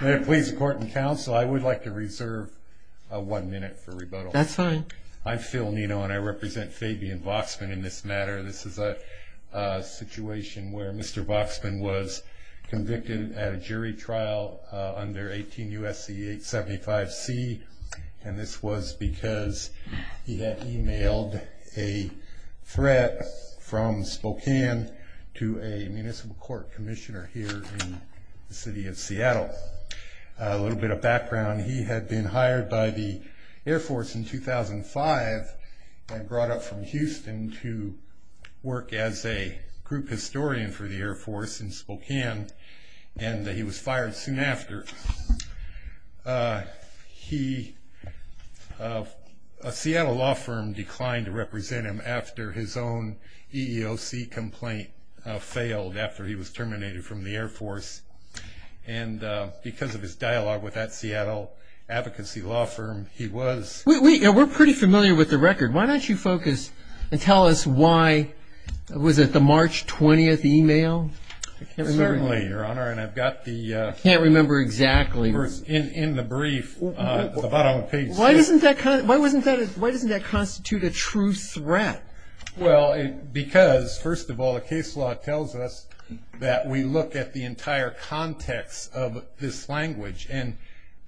May it please the court and counsel I would like to reserve one minute for rebuttal. That's fine. I'm Phil Nino and I represent Fabian Vaksman in this matter. This is a situation where Mr. Vaksman was convicted at a jury trial under 18 U.S.C. 875 C and this was because he had emailed a threat from Spokane to a little bit of background. He had been hired by the Air Force in 2005 and brought up from Houston to work as a group historian for the Air Force in Spokane and he was fired soon after. A Seattle law firm declined to represent him after his own EEOC complaint failed after he was terminated from the Air Force and because of his dialogue with that Seattle advocacy law firm he was We're pretty familiar with the record. Why don't you focus and tell us why was it the March 20th email? Certainly your honor and I've got the I can't remember exactly. In the brief at the bottom of the page. Why doesn't that constitute a true threat? Well because first of all the case law tells us that we look at the entire context of this language and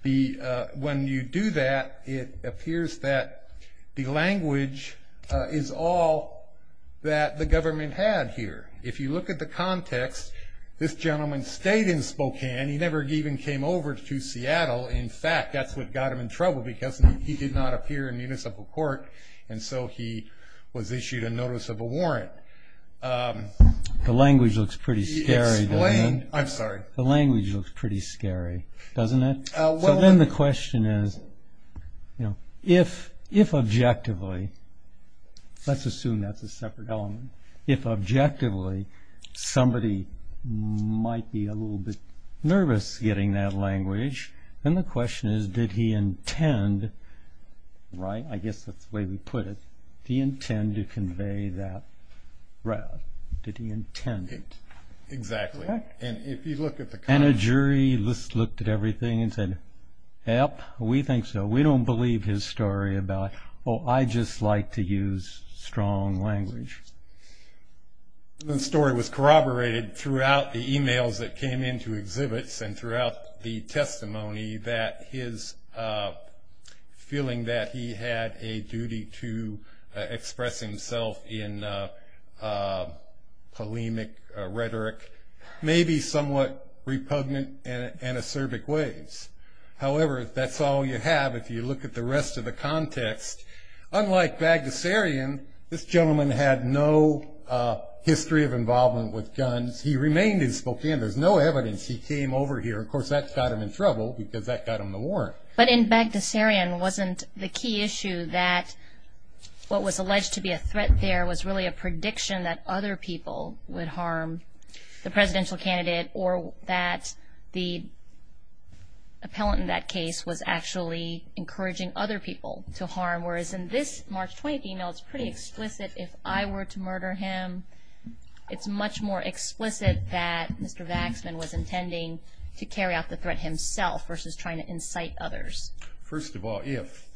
when you do that it appears that the language is all that the government had here. If you look at the context this gentleman stayed in Spokane. He never even came over to Seattle. In fact that's what got him in trouble because he did not appear in municipal court and so he was issued a notice of a warrant. The language looks pretty scary doesn't it? I'm sorry. The language looks pretty scary doesn't it? So then the question is you know if objectively let's assume that's a separate element. If objectively somebody might be a little bit nervous getting that language then the question is did he intend right I guess that's the way we put it. Did he intend to convey that route? Did he intend it? Exactly and if you look at the And a jury looked at everything and said yep we think so. We don't believe his story about oh I just like to use strong language. The story was corroborated throughout the emails that came into exhibits and throughout the testimony that his feeling that he had a duty to express himself in polemic rhetoric maybe somewhat repugnant and an acerbic ways. However that's all you have if you look at the rest of the context. Unlike Bagdasarian this gentleman had no history of involvement with guns. He remained in Spokane. There's no evidence he came over here. Of course that got him in trouble because that got him the warrant. But in Bagdasarian wasn't the key issue that what was alleged to be a threat there was really a prediction that other people would harm the presidential candidate or that the appellant in that case was actually encouraging other people to harm. Whereas in this March 20th email it's pretty explicit if I were to murder him it's much more explicit that Mr. Vaxman was intending to carry out the threat himself versus trying to incite others. First of all if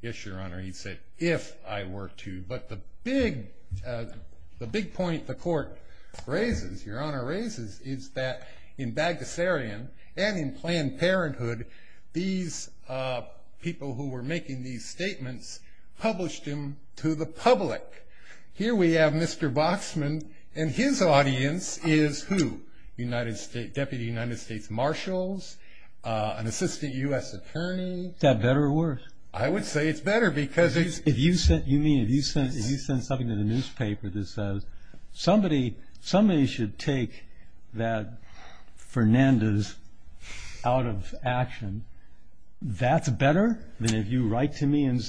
yes your honor he said if I were to but the big the big point the court raises your honor raises is that in Bagdasarian and in Planned Parenthood these people who were making these statements published him to the public. Here we have Mr. Vaxman and his audience is who? United States Deputy United States Marshals, an assistant U.S. Attorney. Is that better or worse? I would say it's better because if you send something to the newspaper that says somebody should take that Fernandez out of action that's better than if you write to me I'm able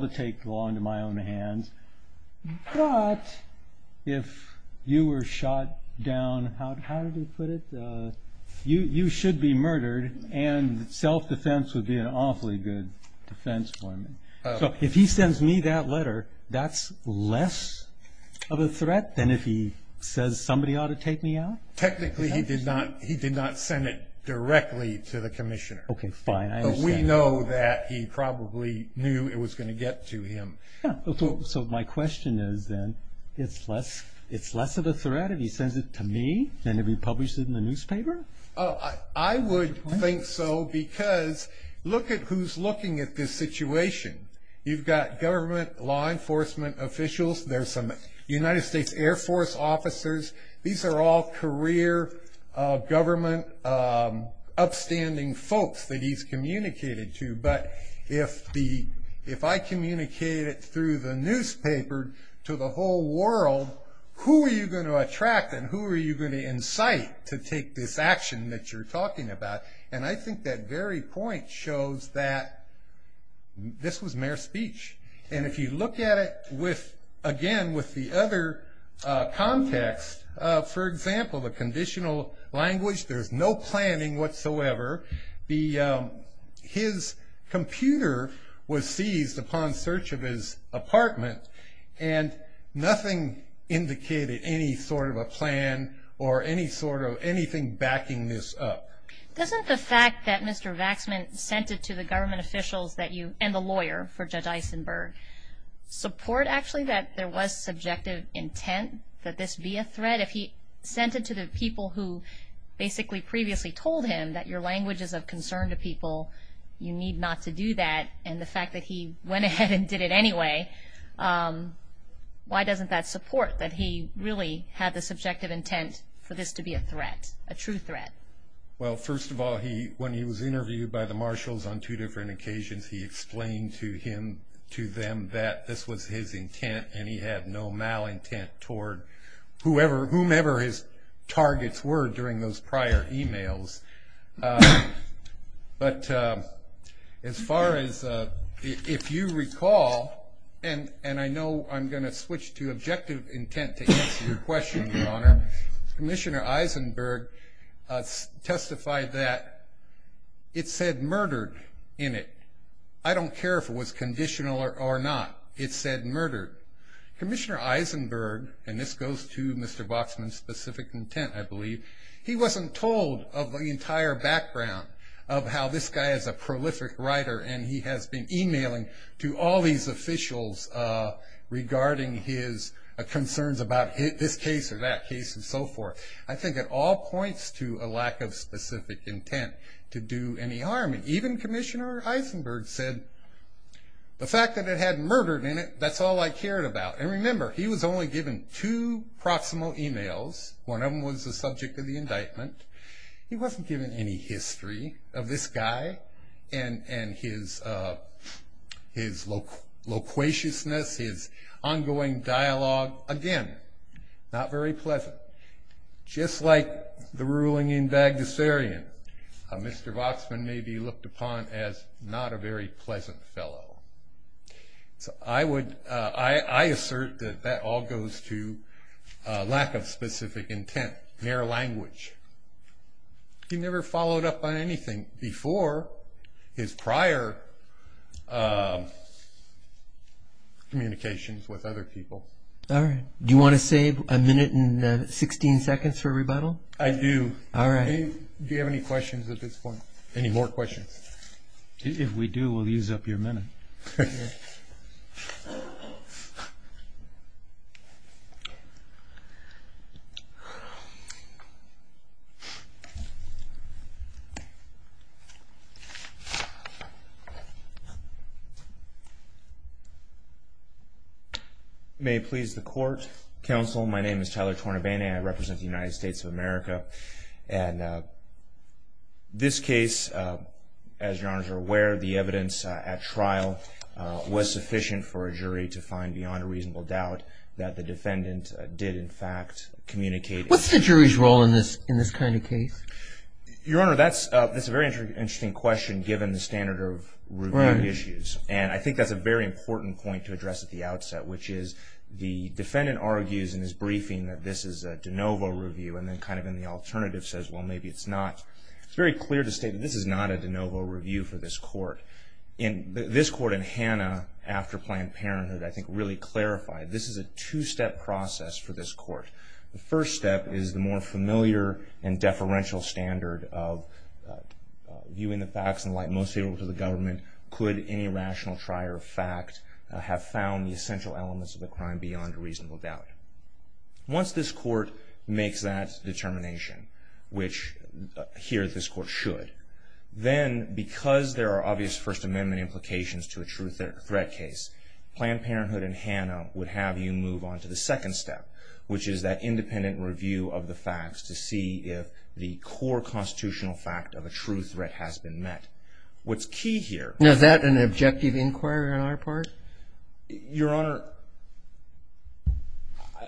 to take the law into my own hands but if you were shot down, how did he put it, you should be murdered and self-defense would be an awfully good defense for me. So if he sends me that letter that's less of a threat than if he says somebody ought to take me out? Technically he did not he did not send it directly to the Commissioner. Okay fine. We know that he probably knew it was going to get to him. So my question is then it's less it's less of a threat if he sends it to me than if he published it in the newspaper? I would think so because look at who's looking at this situation you've got government law enforcement officials there's some United States Air Force officers these are all career government upstanding folks that he's communicated to but if I communicate it through the newspaper to the whole world who are you going to attract and who are you going to incite to take this action that you're talking about and I think that very point shows that this was mere speech and if you look at it with again with the other context for example the conditional language there's no planning whatsoever the his computer was seized upon search of his apartment and nothing indicated any sort of a plan or any sort of anything backing this up. Doesn't the fact that Mr. Vaxman sent it to the government officials that you and the lawyer for Judge Eisenberg support actually that there was subjective intent that this be a threat if he sent it to the people who basically previously told him that your language is of concern to people you need not to do that and the fact that he went ahead and did it anyway why doesn't that support that he really had the subjective intent for this to be a threat a true threat? Well first of all he when he was on different occasions he explained to him to them that this was his intent and he had no mal intent toward whoever whomever his targets were during those prior emails but as far as if you recall and and I know I'm going to switch to objective intent to answer your question your honor Commissioner Eisenberg testified that it said murdered in it I don't care if it was conditional or not it said murdered Commissioner Eisenberg and this goes to Mr. Vaxman specific intent I believe he wasn't told of the entire background of how this guy is a prolific writer and he has been emailing to all these officials regarding his concerns about this case or that case and so forth I think it all points to a lack of specific intent to any harm and even Commissioner Eisenberg said the fact that it had murdered in it that's all I cared about and remember he was only given two proximal emails one of them was the subject of the indictment he wasn't given any history of this guy and and his his loquaciousness his ongoing dialogue again not very pleasant just like the ruling in Bagdasarian Mr. Vaxman may be looked upon as not a very pleasant fellow so I would I assert that that all goes to lack of specific intent mere language he never followed up on anything before his prior communications all right do you want to save a minute and 16 seconds for rebuttal I do all right do you have any questions at this point any more questions if we do we'll use up your minute may please the court counsel my name is Tyler Tornabene I represent the United States of America and this case as your honors are aware the evidence at trial was sufficient for a jury to find beyond a reasonable doubt that the defendant did in fact communicate what's the jury's role in this in this kind of case your honor that's that's a very interesting question given the standard of right issues and I think that's a very important point to address at the which is the defendant argues in his briefing that this is a de novo review and then kind of in the alternative says well maybe it's not it's very clear to state this is not a de novo review for this court in this court in Hannah after Planned Parenthood I think really clarified this is a two-step process for this court the first step is the more familiar and deferential standard of viewing the facts and like most people to the government could any rational trier of fact have found the essential elements of the crime beyond a reasonable doubt once this court makes that determination which here this court should then because there are obvious First Amendment implications to a true threat threat case Planned Parenthood and Hannah would have you move on to the second step which is that independent review of the facts to see if the core constitutional fact of a true threat has been met what's key here is that an objective inquiry on our part your honor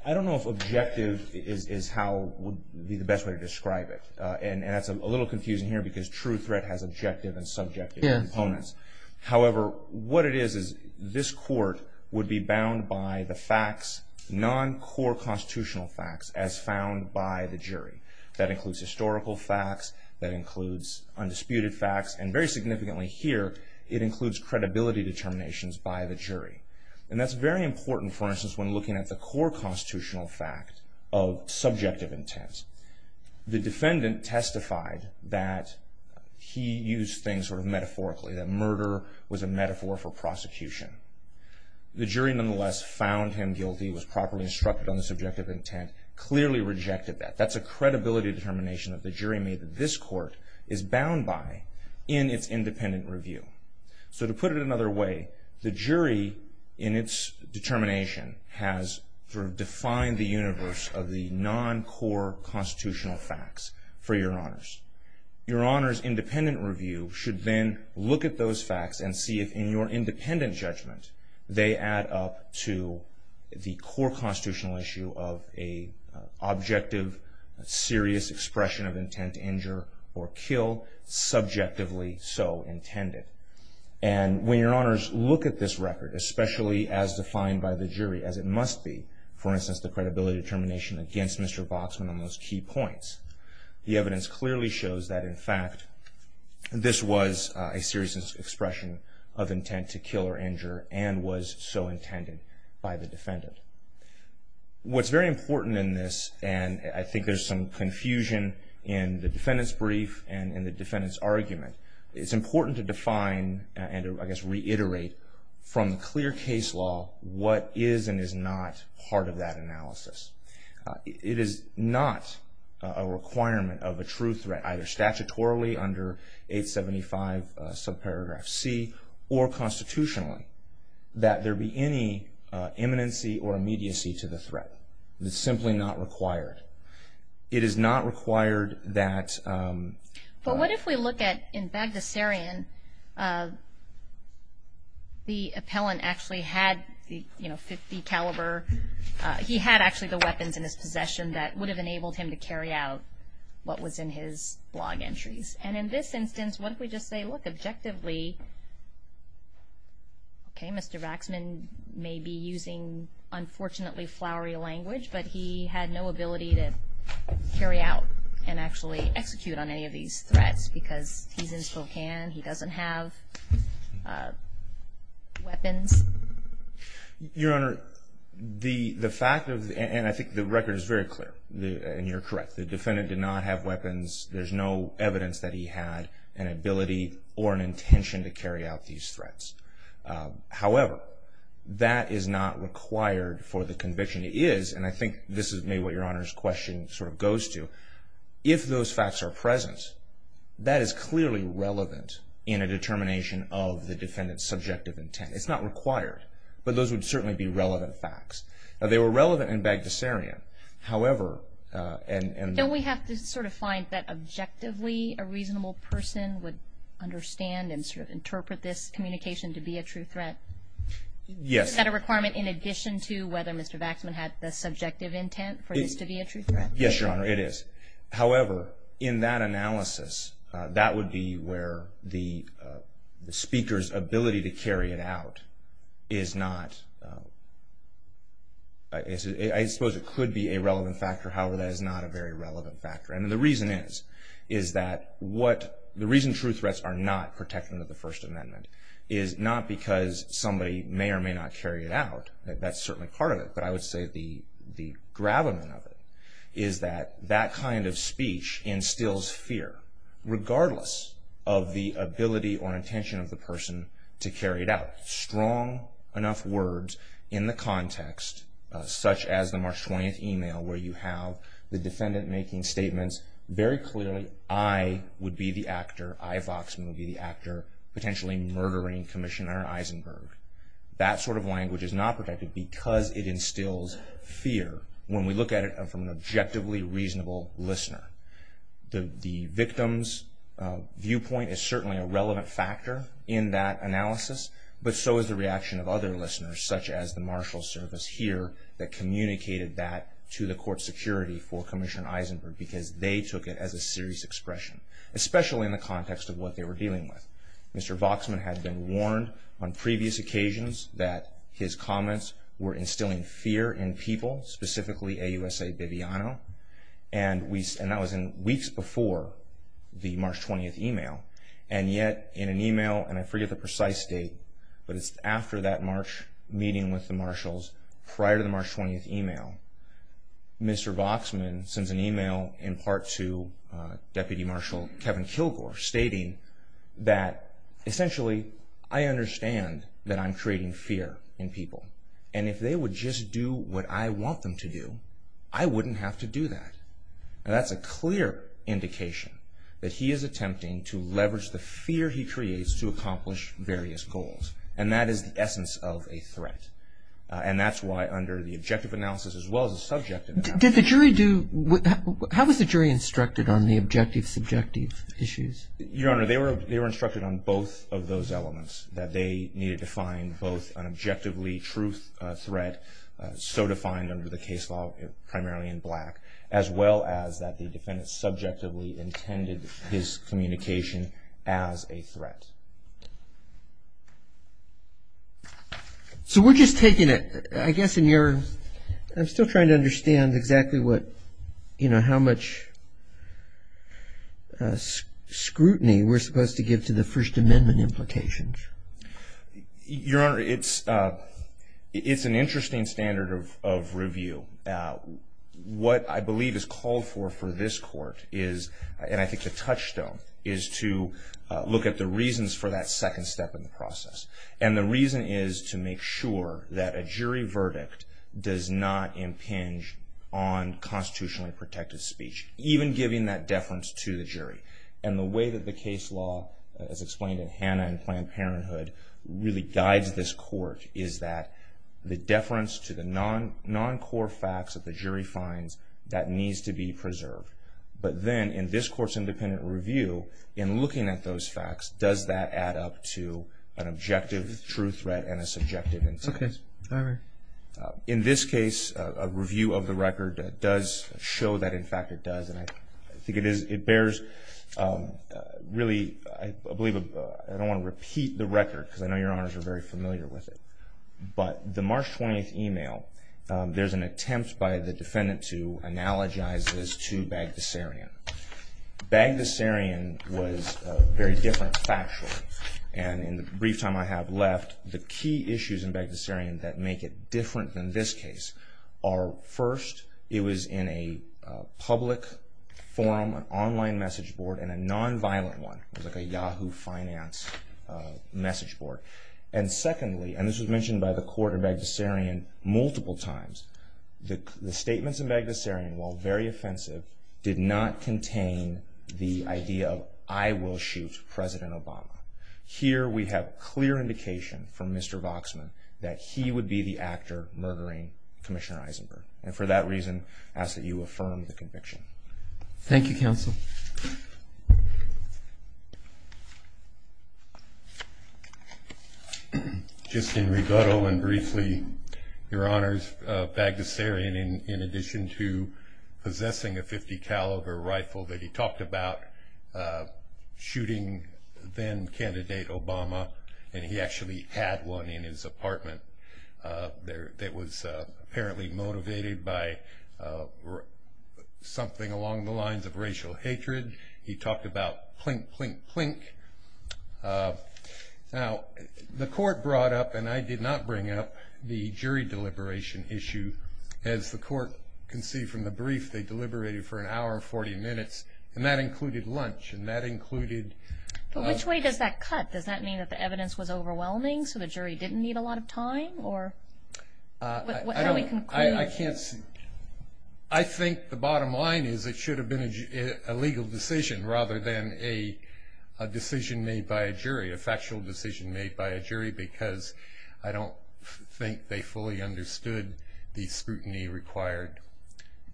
I don't know if objective is how would be the best way to describe it and that's a little confusing here because true threat has objective and subjective components however what it is is this court would be bound by the facts non core constitutional facts as found by the jury that includes historical facts that includes undisputed facts and very significantly here it includes credibility determinations by the jury and that's very important for instance when looking at the core constitutional fact of subjective intent the defendant testified that he used things sort of metaphorically that murder was a metaphor for prosecution the jury nonetheless found him guilty was properly instructed on the subjective intent clearly rejected that that's a credibility determination of the jury made that this court is bound by in its independent review so to put it another way the jury in its determination has sort of defined the universe of the non core constitutional facts for your honors your honors independent review should then look at those facts and see if in your independent judgment they add up to the core constitutional issue of a objective serious expression of intent to injure or kill subjectively so intended and when your honors look at this record especially as defined by the jury as it must be for instance the credibility determination against Mr. Boxman on those key points the evidence clearly shows that in fact this was a serious expression of intent to kill or injure and was so intended by the and I think there's some confusion in the defendant's brief and in the defendant's argument it's important to define and I guess reiterate from the clear case law what is and is not part of that analysis it is not a requirement of a true threat either statutorily under 875 subparagraph C or constitutionally that there be any imminency or immediacy to the threat it's simply not required it is not required that but what if we look at in Bagdasarian the appellant actually had the you know 50 caliber he had actually the weapons in his possession that would have enabled him to carry out what was in his blog may be using unfortunately flowery language but he had no ability to carry out and actually execute on any of these threats because he's in Spokane he doesn't have weapons your honor the the fact of and I think the record is very clear the and you're correct the defendant did not have weapons there's no evidence that he had an ability or an that is not required for the conviction is and I think this is maybe what your honors question sort of goes to if those facts are present that is clearly relevant in a determination of the defendant's subjective intent it's not required but those would certainly be relevant facts they were relevant in Bagdasarian however and we have to sort of find that objectively a true threat yes that a requirement in addition to whether Mr. Baxman had the subjective intent for this to be a true threat yes your honor it is however in that analysis that would be where the speaker's ability to carry it out is not I suppose it could be a relevant factor however that is not a very relevant factor and the reason is is that what the reason true threats are not protected under the First Amendment is not because somebody may or may not carry it out that's certainly part of it but I would say the the gravamen of it is that that kind of speech instills fear regardless of the ability or intention of the person to carry it out strong enough words in the context such as the March 20th email where you have the defendant making statements very clearly I would be the actor I Vox movie actor potentially murdering Commissioner Eisenberg that sort of language is not protected because it instills fear when we look at it from an objectively reasonable listener the victim's viewpoint is certainly a relevant factor in that analysis but so is the reaction of other listeners such as the marshal service here that communicated that to the court security for Commissioner Eisenberg because they took it as a serious expression especially in the context of what they were dealing with Mr. Voxman had been warned on previous occasions that his comments were instilling fear in people specifically a USA Viviano and we said that was in weeks before the March 20th email and yet in an email and I forget the precise date but it's after that March meeting with the marshals prior to the March 20th email Mr. Voxman sends an email in part to Deputy Marshal Kevin Kilgore stating that essentially I understand that I'm creating fear in people and if they would just do what I want them to do I wouldn't have to do that and that's a clear indication that he is attempting to leverage the fear he creates to accomplish various goals and that is the essence of a threat and that's why under the objective analysis as well as the subjective analysis did the jury do what how was the jury instructed on the objective subjective issues your honor they were they were instructed on both of those elements that they needed to find both an objectively truth threat so defined under the case law primarily in black as well as that the defendant subjectively intended his communication as a threat so we're just taking it I guess in your I'm still trying to understand exactly what you know how much scrutiny we're supposed to give to the First Amendment implications your honor it's it's an interesting standard of review what I believe is important in this court is and I think the touchstone is to look at the reasons for that second step in the process and the reason is to make sure that a jury verdict does not impinge on constitutionally protected speech even giving that deference to the jury and the way that the case law as explained in non-core facts that the jury finds that needs to be preserved but then in this court's independent review in looking at those facts does that add up to an objective truth threat and a subjective intent in this case a review of the record that does show that in fact it does and I think it is it bears really I there's an attempt by the defendant to analogize this to Bagdasarian Bagdasarian was very different factually and in the brief time I have left the key issues in Bagdasarian that make it different than this case are first it was in a public forum an online message board and a non-violent one like a Yahoo Finance message board and secondly and this was mentioned by the court in Bagdasarian multiple times the statements in Bagdasarian while very offensive did not contain the idea of I will shoot President Obama here we have clear indication from Mr. Voxman that he would be the actor murdering Commissioner Eisenberg and for that reason I ask that you affirm the conviction. Thank you counsel. Just in rebuttal and briefly your honors Bagdasarian in addition to possessing a .50 caliber rifle that he talked about shooting then candidate Obama and he along the lines of racial hatred he talked about clink, clink, clink now the court brought up and I did not bring up the jury deliberation issue as the court can see from the brief they deliberated for an hour and 40 minutes and that included lunch and that included. But which way does that cut does that mean that the evidence was overwhelming so the jury didn't need a lot of time or. I don't I can't see I think the bottom line is it should have been a legal decision rather than a decision made by a jury a factual decision made by a jury because I don't think they fully understood the scrutiny required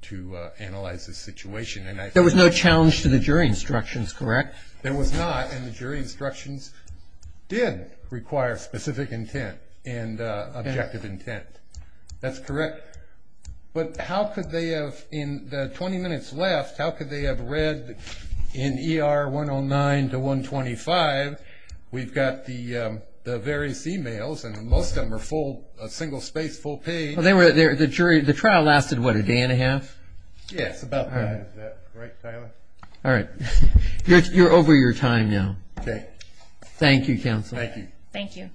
to analyze the situation. And there was no challenge to the jury instructions correct. There was not and the jury instructions did require specific intent and objective intent that's correct but how could they have in the 20 minutes left how could they have read in ER 109 to 125 we've got the various e-mails and most of them are full single space full page. Well they were there the jury the trial lasted what a day and a half. Yes about. Right. All right. You're over your time now. Thank you counsel. Thank you.